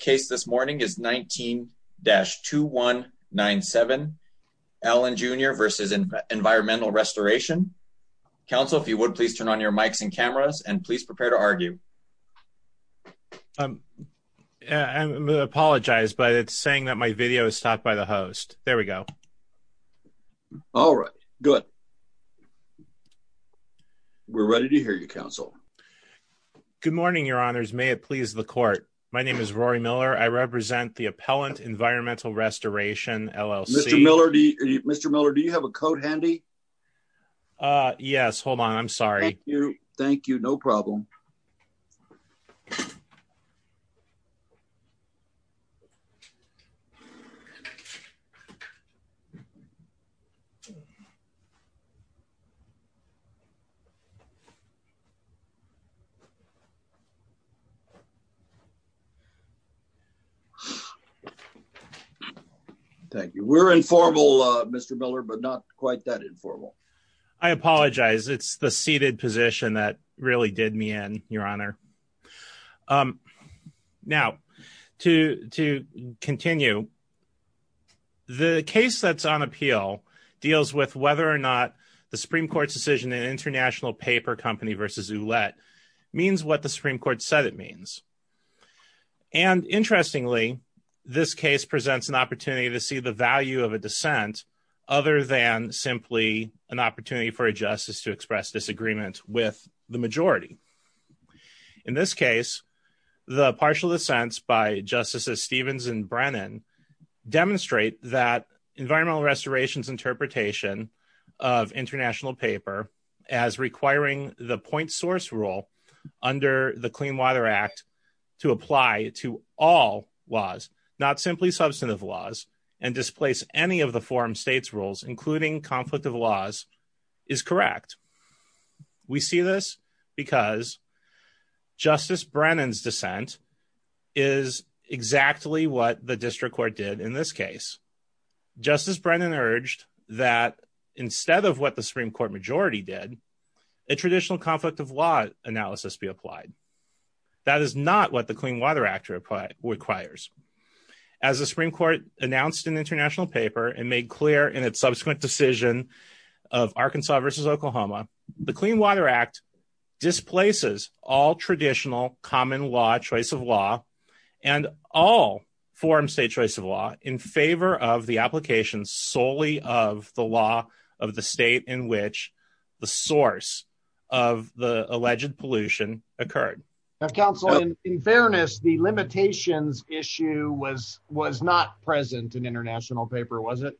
case this morning is 19-2197, Allen, Jr. v. Environmental Restoration. Counsel, if you would please turn on your mics and cameras and please prepare to argue. I apologize, but it's saying that my video is stopped by the host. There we go. All right, good. We're ready to hear you, counsel. Good morning, your honors. May it please the court. My name is Rory Miller. I represent the Appellant Environmental Restoration, LLC. Mr. Miller, do you have a coat handy? Uh, yes. Hold on. I'm sorry. Thank you. Thank you. No problem. Thank you. We're informal, Mr. Miller, but not quite that informal. I apologize. It's the seated position that really did me in, your honor. Now, to continue, the case that's on appeal deals with whether or not the Supreme Court's international paper company v. Ouellette means what the Supreme Court said it means. And interestingly, this case presents an opportunity to see the value of a dissent other than simply an opportunity for a justice to express disagreement with the majority. In this case, the partial dissents by Justices Stevens and Brennan demonstrate that as requiring the point source rule under the Clean Water Act to apply to all laws, not simply substantive laws, and displace any of the forum state's rules, including conflict of laws, is correct. We see this because Justice Brennan's dissent is exactly what the district court did in this case. Justice Brennan urged that instead of what the Supreme Court majority did, a traditional conflict of law analysis be applied. That is not what the Clean Water Act requires. As the Supreme Court announced in the international paper and made clear in its subsequent decision of Arkansas v. Oklahoma, the Clean Water Act displaces all traditional common law, choice of law, and all forum state choice of law in favor of the application solely of the law of the state in which the source of the alleged pollution occurred. Now, counsel, in fairness, the limitations issue was not present in international paper, was it?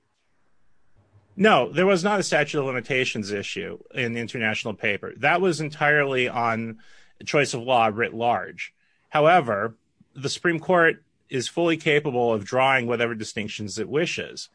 No, there was not a statute of limitations issue in the international paper. That was entirely on choice of law writ large. However, the Supreme Court is fully capable of drawing whatever distinctions it wishes.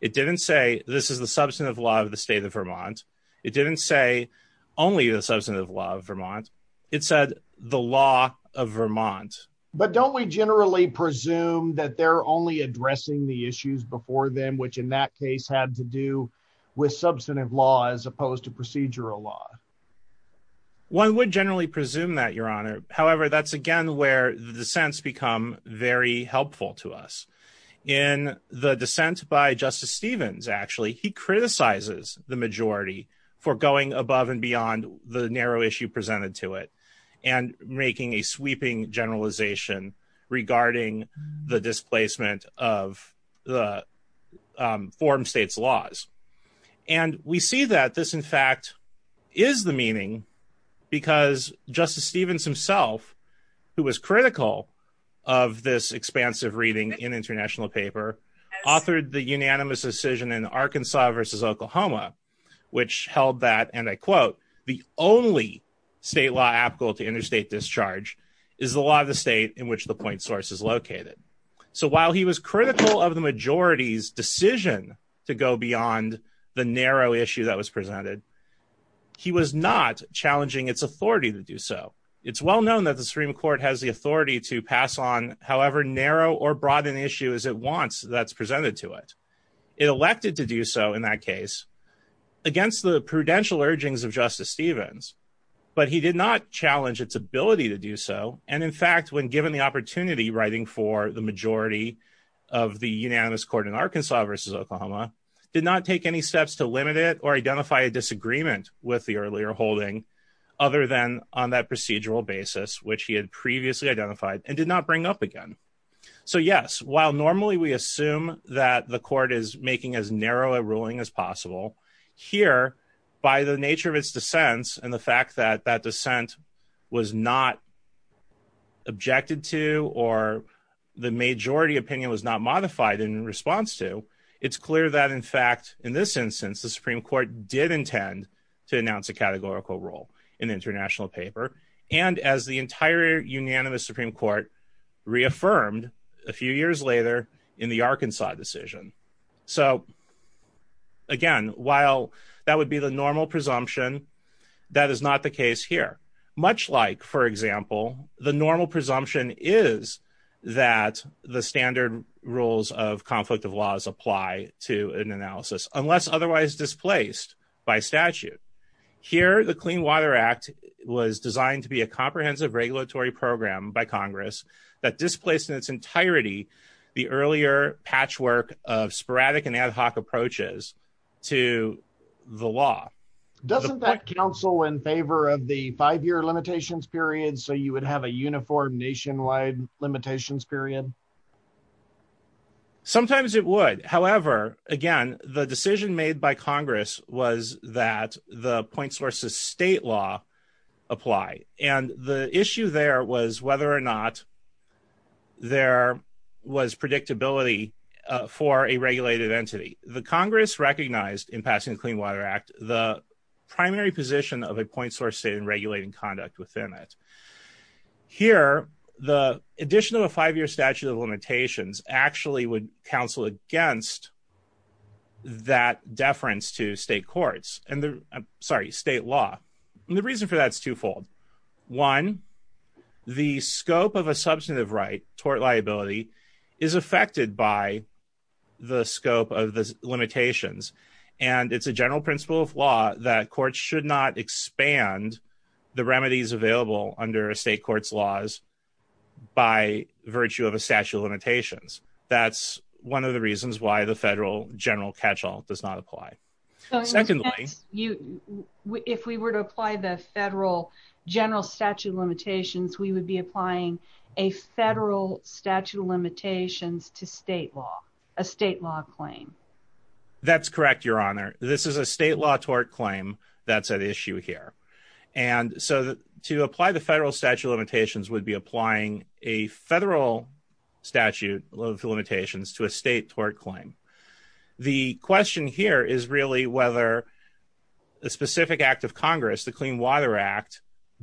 It didn't say this is the substantive law of the state of Vermont. It didn't say only the substantive law of Vermont. It said the law of Vermont. But don't we generally presume that they're only addressing the issues before them, which in that case had to do with substantive law as opposed to procedural law? One would generally presume that, Your Honor. However, that's again where the dissents become very helpful to us. In the dissent by Justice Stevens, actually, he criticizes the majority for going above and beyond the narrow issue presented to it and making a sweeping generalization regarding the displacement of the form state's laws. And we see that this, in fact, is the meaning because Justice Stevens himself, who was critical of this expansive reading in international paper, authored the unanimous decision in Arkansas versus Oklahoma, which held that, and I quote, the only state law applicable to interstate discharge is the law of the state in which the point source is located. So while he was critical of the majority's decision to go beyond the narrow issue that was presented, he was not challenging its authority to do so. It's well known that the Supreme Court has the authority to pass on however narrow or broad an issue as it wants that's presented to it. It elected to do so in that case against the prudential urgings of Justice Stevens, but he did not challenge its ability to do so. And in fact, when given the opportunity writing for the majority of the unanimous court in Arkansas versus Oklahoma, did not take any steps to limit it or identify a disagreement with the earlier holding other than on that procedural basis, which he had previously identified and did not bring up again. So yes, while normally we assume that the court is making as narrow a ruling as possible, here, by the nature of its dissents, and the fact that that dissent was not objected to, or the majority opinion was not modified in response to, it's clear that in fact, in this instance, the Supreme Court did intend to announce a categorical role in the international paper, and as the entire unanimous Supreme Court reaffirmed a few years later in the Arkansas decision. So again, while that would be the normal presumption, that is not the case here, much like for example, the normal presumption is that the standard rules of conflict of laws apply to an analysis unless otherwise displaced by statute. Here, the Clean Water Act was designed to be a comprehensive regulatory program by Congress that displaced in its entirety, the earlier patchwork of sporadic and ad hoc approaches to the law. Doesn't that counsel in favor of the five-year limitations period so you would have a uniform nationwide limitations period? Sometimes it would. However, again, the decision made by Congress was that the point sources state law apply. And the issue there was whether or not there was predictability for a regulated entity. The Congress recognized in passing the Clean Water Act, the primary position of a point source state in regulating conduct within it. Here, the addition of a five-year statute of limitations actually would counsel against that deference to state courts and the, sorry, state law. And the reason for that is twofold. One, the scope of a substantive right toward liability is affected by the scope of the limitations. And it's a general principle of law that courts should not expand the remedies available under a state court's laws by virtue of a statute of limitations. That's one of the reasons why the federal general catch-all does not apply. Secondly, if we were to apply the federal general statute of limitations, we would be applying a federal statute of limitations to state law, a state law claim. That's correct, Your Honor. This is a state law tort claim that's at issue here. And so to apply the federal statute of limitations would be applying a federal statute of limitations to a state tort claim. The question here is really whether the specific act of Congress, the Clean Water Act,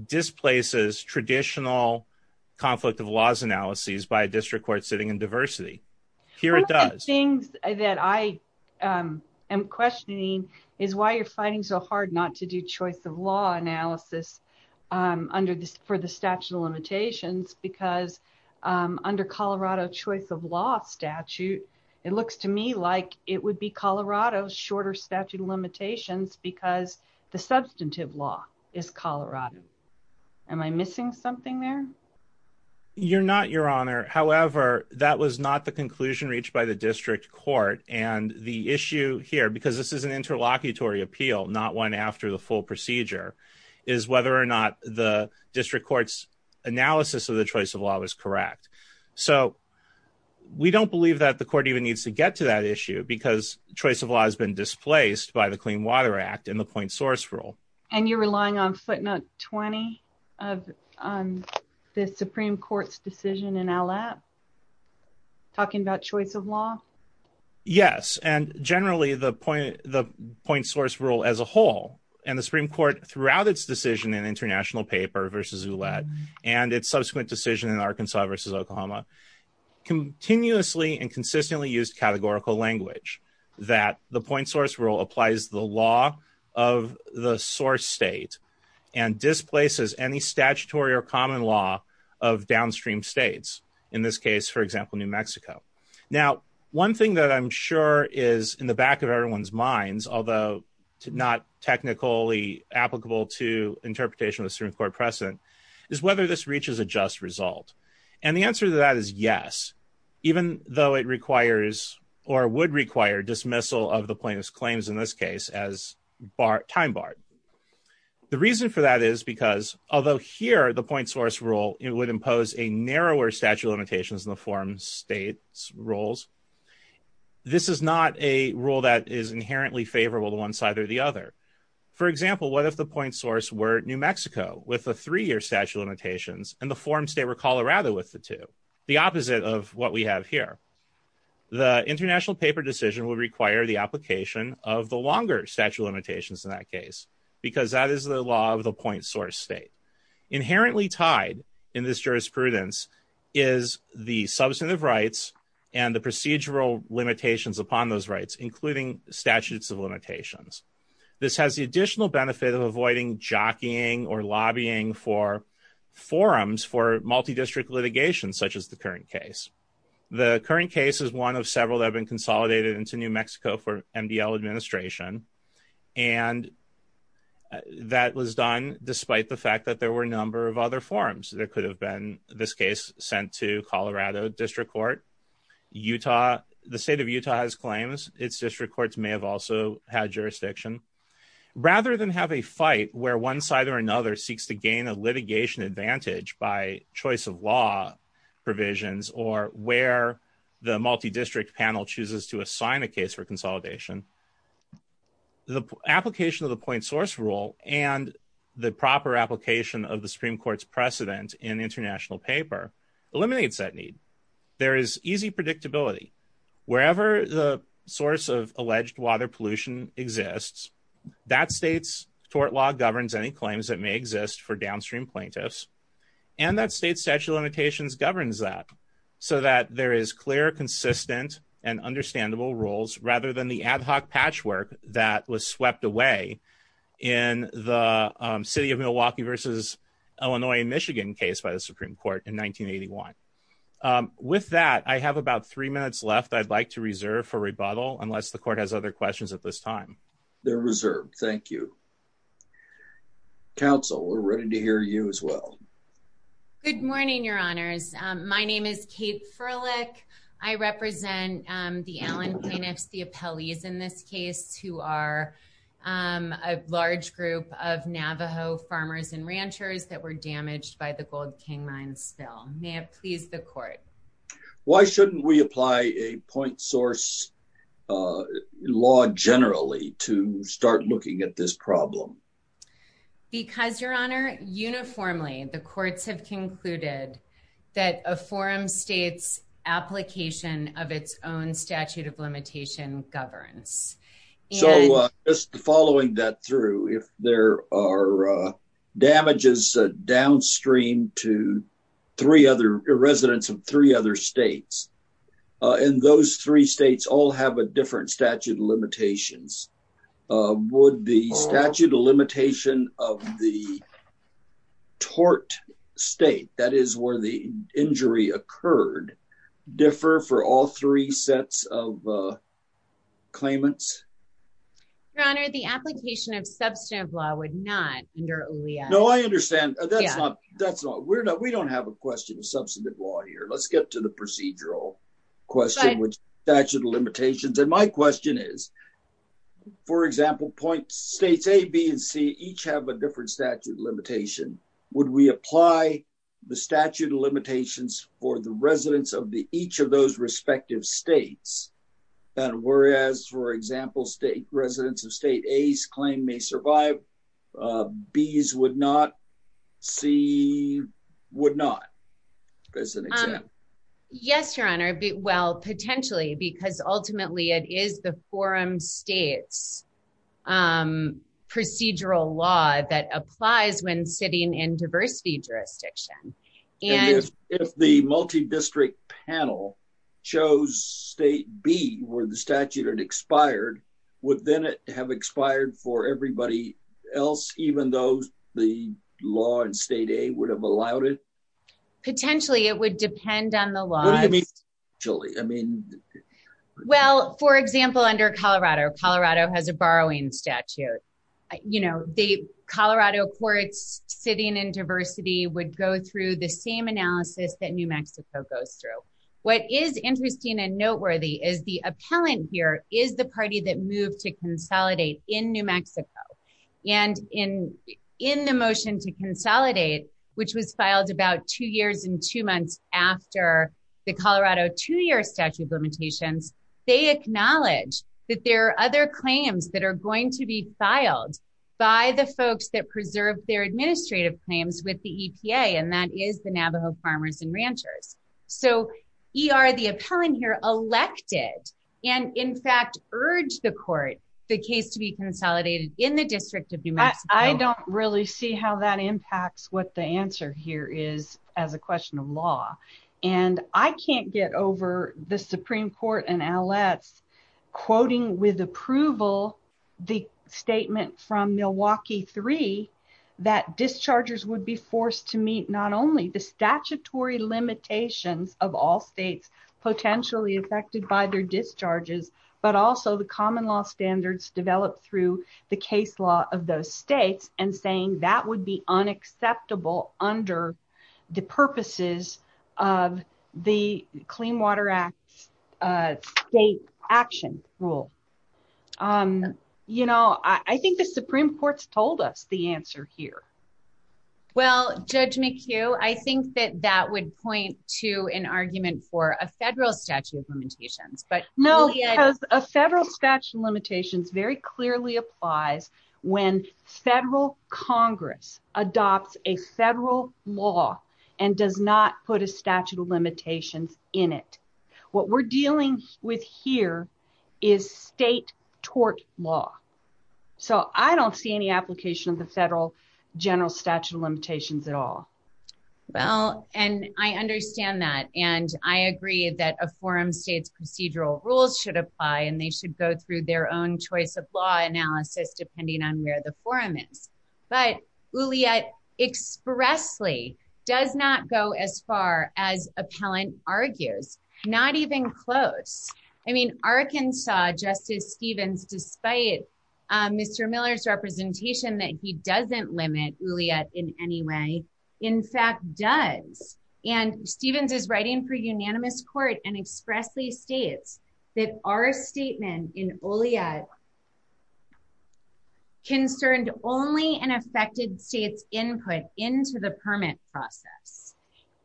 displaces traditional conflict of laws analyses by a district court sitting in diversity. Here it does. One of the things that I am questioning is why you're finding so hard not to do choice of law analysis for the statute of limitations because under Colorado choice of law statute, it looks to me like it would be Colorado's shorter statute of limitations because the substantive law is Colorado. Am I missing something there? You're not, Your Honor. However, that was not the conclusion reached by the district court. And the issue here, because this is an interlocutory appeal, not one after the full is whether or not the district court's analysis of the choice of law was correct. So we don't believe that the court even needs to get to that issue because choice of law has been displaced by the Clean Water Act and the point source rule. And you're relying on footnote 20 of the Supreme Court's decision in ALAP talking about choice of law? Yes. And generally, the point source rule as a whole and the Supreme Court throughout its decision in international paper versus Oulette and its subsequent decision in Arkansas versus Oklahoma, continuously and consistently used categorical language that the point source rule applies the law of the source state and displaces any statutory or common law of downstream states, in this case, for example, New Mexico. Now, one thing that I'm sure is in the back of everyone's minds, although not technically applicable to interpretation of the Supreme Court precedent, is whether this reaches a just result. And the answer to that is yes, even though it requires or would require dismissal of the plaintiff's claims in this case as time barred. The reason for that is because although here the point source rule, it would impose a narrower statute limitations in the forum states roles. This is not a rule that is inherently favorable to one side or the other. For example, what if the point source were New Mexico with a three-year statute limitations and the forum state were Colorado with the two? The opposite of what we have here. The international paper decision would require the application of the longer statute limitations in that case, because that is the law of the point source state. Inherently tied in this jurisprudence is the substantive rights and the procedural limitations upon those rights, including statutes of limitations. This has the additional benefit of avoiding jockeying or lobbying for forums for multi-district litigation, such as the current case. The current case is one of several that have been consolidated into New Mexico for MDL administration, and that was done despite the fact that there were a number of other forums. There could have been this case sent to Colorado district court. The state of Utah has claims. Its district courts may have also had jurisdiction. Rather than have a fight where one side or another seeks to gain a litigation advantage by choice of law provisions or where the multi-district panel chooses to assign a case for consolidation, the application of the point source rule and the proper application of the Supreme Court's precedent in international paper eliminates that need. There is easy predictability. Wherever the source of alleged water pollution exists, that state's tort law governs any claims that may exist for downstream plaintiffs, and that state's statute of limitations governs that, so that there is clear, consistent, and understandable rules rather than the ad hoc patchwork that was swept away in the city of Milwaukee versus Illinois and Michigan case by the Supreme Court in 1981. With that, I have about three minutes left I'd like to reserve for rebuttal, unless the court has other questions at this time. They're reserved. Thank you. Council, we're ready to hear you as Good morning, your honors. My name is Kate Furlick. I represent the Allen plaintiffs, the appellees in this case, who are a large group of Navajo farmers and ranchers that were damaged by the Gold King Mine spill. May it please the court. Why shouldn't we apply a point source uh law generally to start looking at this problem? Because, your honor, uniformly the courts have concluded that a forum state's application of its own statute of limitation governs. So just following that through, if there are uh damages downstream to three other residents of other states, and those three states all have a different statute of limitations, would the statute of limitation of the tort state, that is where the injury occurred, differ for all three sets of claimants? Your honor, the application of substantive law would not under OLEA. No, I understand. That's not, that's not, we're not, we don't have a question substantive law here. Let's get to the procedural question, which statute of limitations, and my question is, for example, point states A, B, and C each have a different statute limitation. Would we apply the statute of limitations for the residents of the each of those respective states? And whereas, for example, state residents of state A's claim may survive, B's would not, C would not, as an example. Yes, your honor, well potentially, because ultimately it is the forum state's procedural law that applies when sitting in diversity jurisdiction. And if the multi-district panel chose state B, where the statute had expired, would then it have expired for everybody else, even though the law in state A would have allowed it? Potentially, it would depend on the laws. I mean, well, for example, under Colorado, Colorado has a borrowing statute, you know, the Colorado courts sitting in diversity would go through the same analysis that New Mexico goes through. What is interesting and noteworthy is the appellant here is the party that moved to and in the motion to consolidate, which was filed about two years and two months after the Colorado two-year statute of limitations, they acknowledge that there are other claims that are going to be filed by the folks that preserve their administrative claims with the EPA, and that is the Navajo farmers and ranchers. So ER, the appellant here, elected and in fact urged the court, the case to be consolidated in the district of New Mexico. I don't really see how that impacts what the answer here is as a question of law. And I can't get over the Supreme Court and Aletz quoting with approval, the statement from Milwaukee three, that dischargers would be forced to meet not only the statutory limitations of all states potentially affected by their discharges, but also the common law standards developed through the case law of those states and saying that would be unacceptable under the purposes of the Clean Water Act state action rule. You know, I think the Supreme Court's told us the answer here. Well, Judge McHugh, I think that that would point to an argument for a federal statute of limitations, but- No, because a federal statute of limitations very clearly applies when federal Congress adopts a federal law and does not put a statute of limitations in it. What we're dealing with here is state tort law. So I don't see any application of the federal general statute of limitations at all. Well, and I understand that. And I agree that a forum states procedural rules should apply and they should go through their own choice of law analysis depending on where the Arkansas Justice Stevens, despite Mr. Miller's representation that he doesn't limit Oliet in any way, in fact does. And Stevens is writing for unanimous court and expressly states that our statement in Oliet concerned only an affected state's input into the permit process.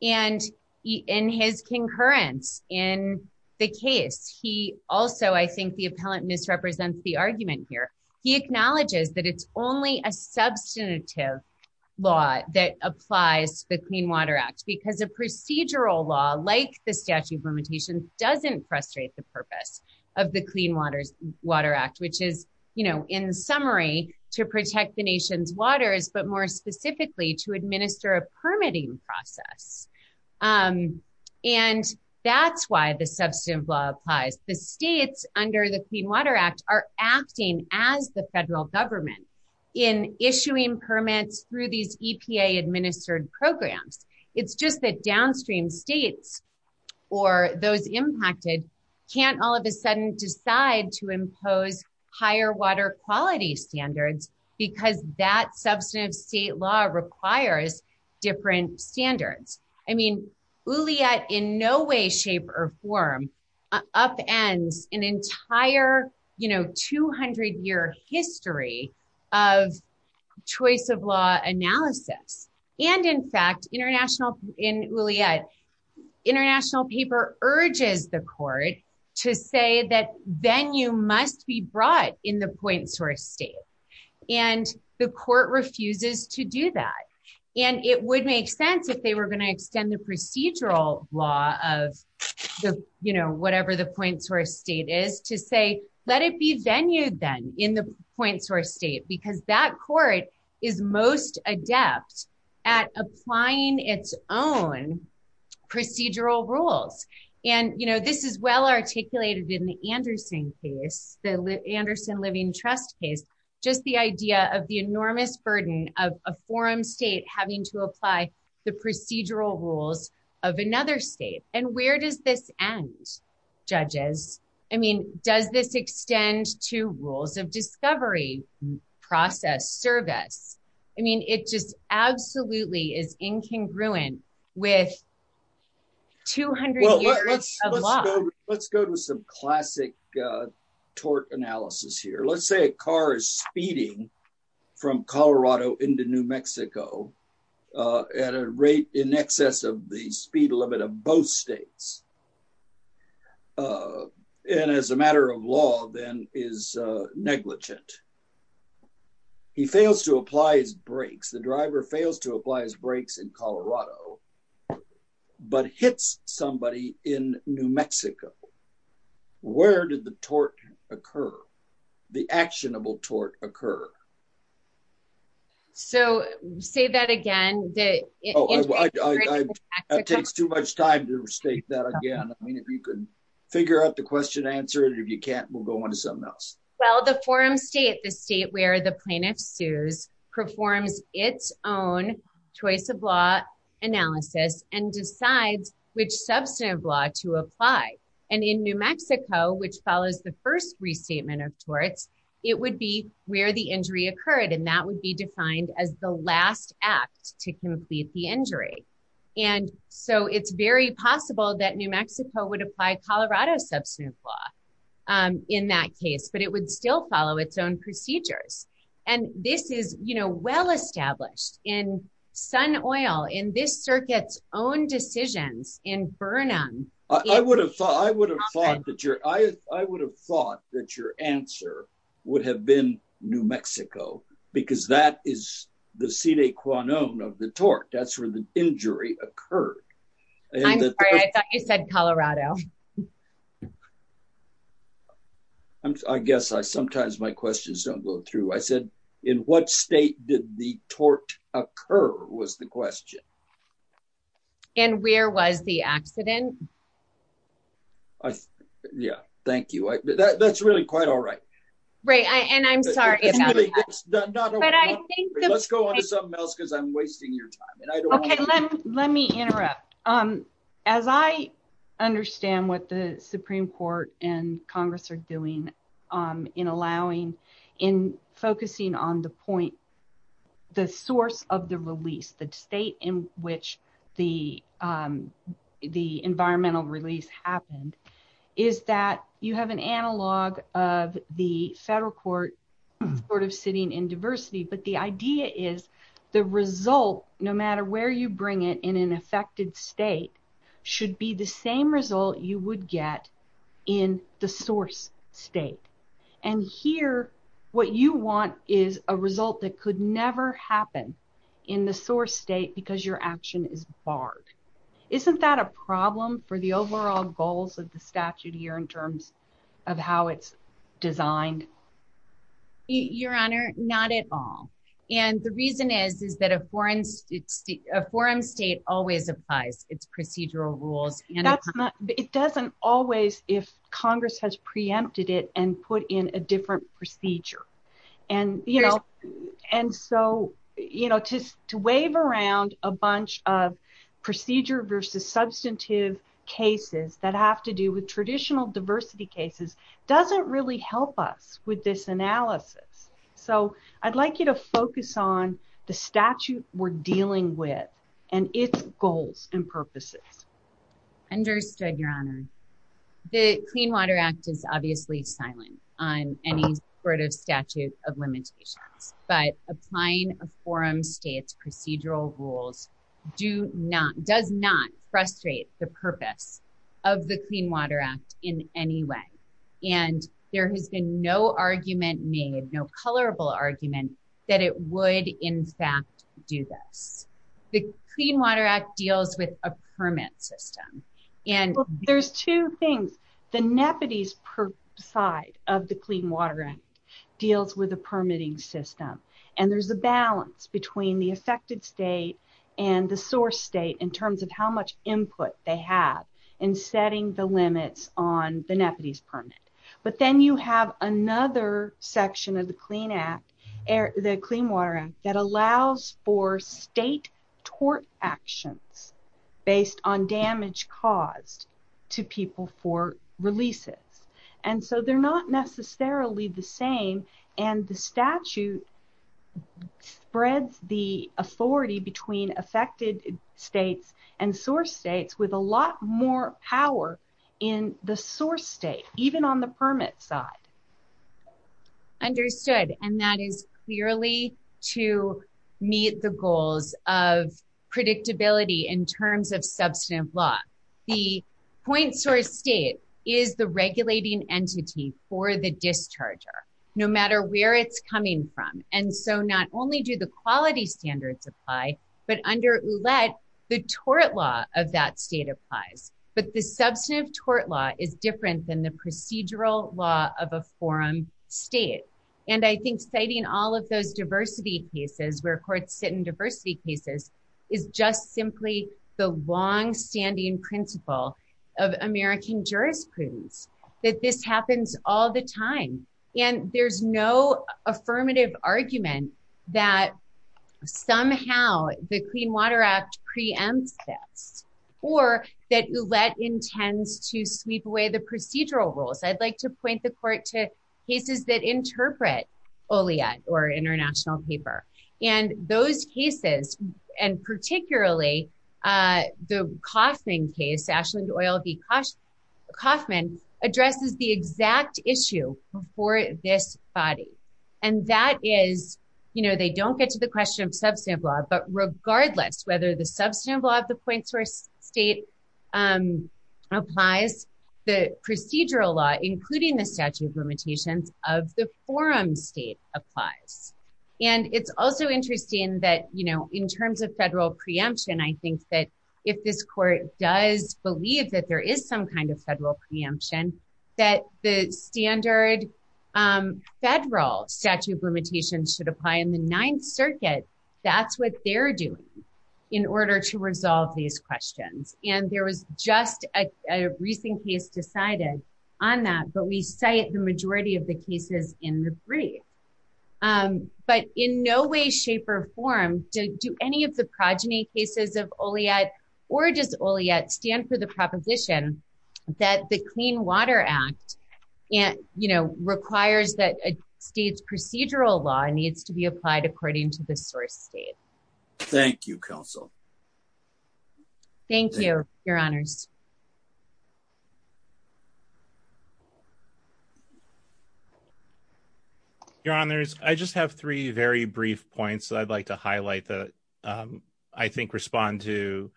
And in his concurrence in the case, he also, I think the appellant misrepresents the argument here. He acknowledges that it's only a substantive law that applies to the Clean Water Act because a procedural law like the statute of limitations doesn't frustrate the purpose of the Clean Water Act, which is, you know, in summary to protect the nation's waters, but more specifically to protect the nation's waters. And that's why the substantive law applies. The states under the Clean Water Act are acting as the federal government in issuing permits through these EPA administered programs. It's just that downstream states or those impacted can't all of a sudden decide to impose higher water quality standards because that substantive state law requires different standards. I mean, Oliet in no way, shape or form upends an entire, you know, 200-year history of choice of law analysis. And in fact, in Oliet, international paper urges the court to say that venue must be brought in the point source state. And the court refuses to do that. And it would make sense if they were going to extend the procedural law of the, you know, whatever the point source state is to say, let it be venue then in the point source state because that court is most adept at applying its own procedural rules. And, you know, this is well articulated in the Anderson case, the Anderson Living Trust case, just the idea of the enormous burden of a forum state having to apply the procedural rules of another state. And where does this end, judges? I mean, does this extend to rules of discovery, process, service? I mean, it just absolutely is incongruent with 200 years of law. Let's go to some classic tort analysis here. Let's say a car is speeding from Colorado into New Mexico at a rate in excess of the speed limit of both states. And as a matter of law, then is negligent. He fails to apply his brakes. The driver fails to apply his brakes in Colorado, but hits somebody in New Mexico. Where did the tort occur? The actionable tort occur. So say that again. It takes too much time to state that again. I mean, if you could figure out the question, answer it. If you can't, we'll go on to something else. Well, the forum state, the state where the plaintiff sues, performs its own choice of law analysis and decides which substantive law to apply. And in New Mexico, which follows the first restatement of torts, it would be where the injury occurred. And that would be defined as the last act to complete the injury. And so it's very possible that New Mexico would apply Colorado substantive law in that case, but it would still follow its own procedures. And this is well established in Sun Oil, in this circuit's own decisions in Burnham. I would have thought that your answer would have been New Mexico, because that is the sine qua non of the tort. That's where the injury occurred. I'm sorry, I thought you said Colorado. I guess I sometimes my questions don't go through. I said, in what state did the tort occur was the question. And where was the accident? Yeah, thank you. That's really quite all right. Right. And I'm sorry. Let's go on to something else because I'm wasting your time. Okay, let me interrupt. As I understand what the Supreme Court and Congress are doing in allowing in focusing on the point, the source of the release, the state in which the environmental release happened, is that you have an analog of the federal court sort of sitting in diversity. But the idea is the result, no matter where you bring it in an affected state, should be the same result you would get in the source state. And here, what you want is a result that could never happen in the source state because your action is barred. Isn't that a problem for the overall goals of the statute here in terms of how it's designed? Your Honor, not at all. And the reason is that a foreign state always applies its procedural rules. It doesn't always if Congress has preempted it and put in a different procedure. And so, to wave around a bunch of procedure versus substantive cases that have to do with So, I'd like you to focus on the statute we're dealing with and its goals and purposes. Understood, Your Honor. The Clean Water Act is obviously silent on any sort of statute of limitations, but applying a foreign state's procedural rules does not frustrate the purpose of the Clean Water Act in any way. And there has been no argument made, no colorable argument, that it would in fact do this. The Clean Water Act deals with a permit system. There's two things. The nepotism side of the Clean Water Act deals with a permitting system. And there's a balance between the affected state and the source state in terms of how much input they have in setting the limits on the nepotism permit. But then you have another section of the Clean Water Act that allows for state tort actions based on damage caused to people for releases. And so, they're not necessarily the same. And the statute spreads the authority between affected states and source states with a lot more power in the source state, even on the permit side. Understood. And that is clearly to meet the goals of predictability in terms of substantive law. The point source state is the regulating entity for the discharger, no matter where it's coming from. And so, not only do the quality standards apply, but under OULET, the tort law of that state applies. But the substantive tort law is different than the procedural law of a foreign state. And I think citing all of those diversity cases, where courts sit in diversity cases, is just simply the longstanding principle of American jurisprudence, that this happens all the time. And there's no affirmative argument that somehow the Clean Water Act preempts this, or that OULET intends to sweep away the procedural rules. I'd like to point the court to cases that interpret OLIET or international paper. And those cases, and particularly the Coffman case, Ashley Doyle v. Coffman, addresses the exact issue for this body. And that is, you know, they don't get to the question of substantive law, but regardless whether the substantive law of the point source state applies, the procedural law, including the statute of limitations of the forum state, applies. And it's also interesting that, you know, in terms of federal preemption, I think that if this court does believe that there is some kind of federal preemption, that the standard federal statute of limitations should apply in the Ninth Circuit. That's what they're doing in order to resolve these questions. And there was just a recent case decided on that, we cite the majority of the cases in the brief. But in no way, shape, or form do any of the progeny cases of OLIET or just OLIET stand for the proposition that the Clean Water Act, you know, requires that a state's procedural law needs to be applied according to the source state. Thank you, counsel. Thank you, your honors. Your honors, I just have three very brief points that I'd like to highlight that I think respond to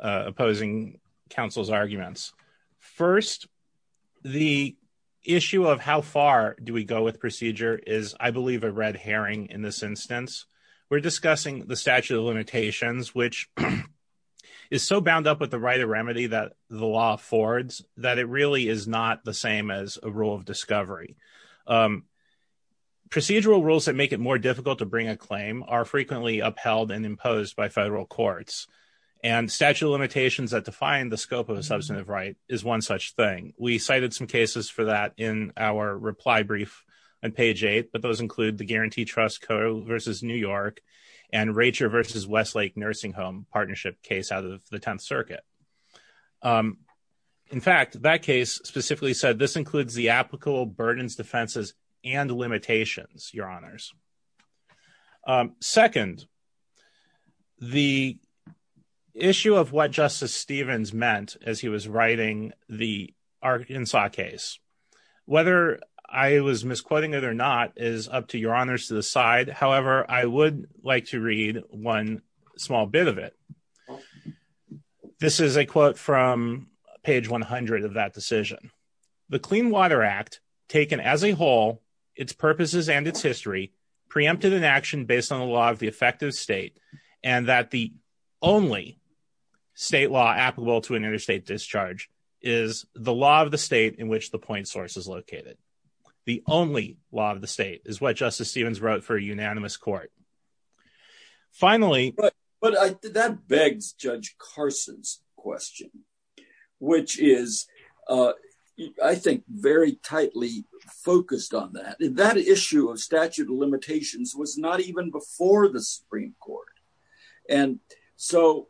opposing counsel's arguments. First, the issue of how far do we go with procedure is, I believe, a red herring. In this instance, we're discussing the statute of limitations, which is so bound up with the right of remedy that the law affords that it really is not the same as rule of discovery. Procedural rules that make it more difficult to bring a claim are frequently upheld and imposed by federal courts. And statute of limitations that define the scope of a substantive right is one such thing. We cited some cases for that in our reply brief on page eight, but those include the Guarantee Trust versus New York, and Rachel versus Westlake Nursing Home partnership case out of the Tenth Circuit. In fact, that case specifically said this includes the applicable burdens, defenses, and limitations, your honors. Second, the issue of what Justice Stevens meant as he was writing the Arkansas case, whether I was misquoting it or not is up to your honors to decide. However, I would like to read one small bit of it. This is a quote from page 100 of that decision. The Clean Water Act, taken as a whole, its purposes and its history, preempted an action based on the law of the effective state, and that the only state law applicable to an interstate discharge is the law of the state in which the point source is located. The only law of the state is what Justice Stevens wrote for a unanimous court. Finally... But that begs Judge Carson's which is, I think, very tightly focused on that. That issue of statute of limitations was not even before the Supreme Court. And so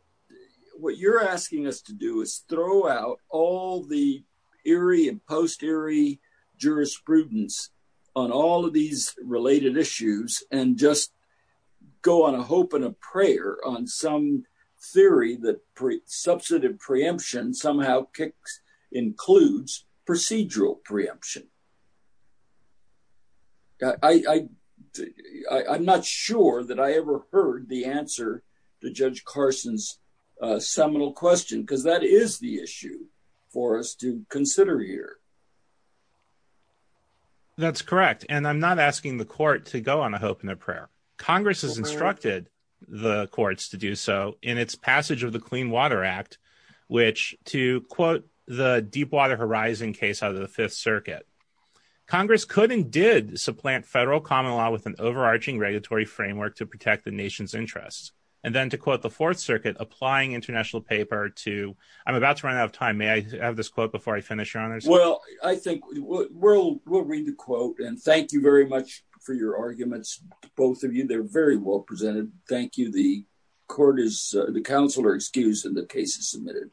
what you're asking us to do is throw out all the eerie and post-eerie jurisprudence on all of these related issues and just go on a hope and a prayer on some theory that pre-substantive preemption somehow kicks includes procedural preemption. I'm not sure that I ever heard the answer to Judge Carson's seminal question because that is the issue for us to consider here. That's correct. And I'm not asking the court to go on a hope and a prayer. Congress has instructed the courts to do so in its passage of the Clean Water Act, which to quote the Deepwater Horizon case out of the Fifth Circuit, Congress could and did supplant federal common law with an overarching regulatory framework to protect the nation's interests. And then to quote the Fourth Circuit applying international paper to... I'm about to run out of time. May I have this quote before I finish, Your Honors? Well, I think we'll read the quote, and thank you very much for your arguments, both of you. They're very well presented. Thank you. The court is... the counsel are excused and the case is submitted.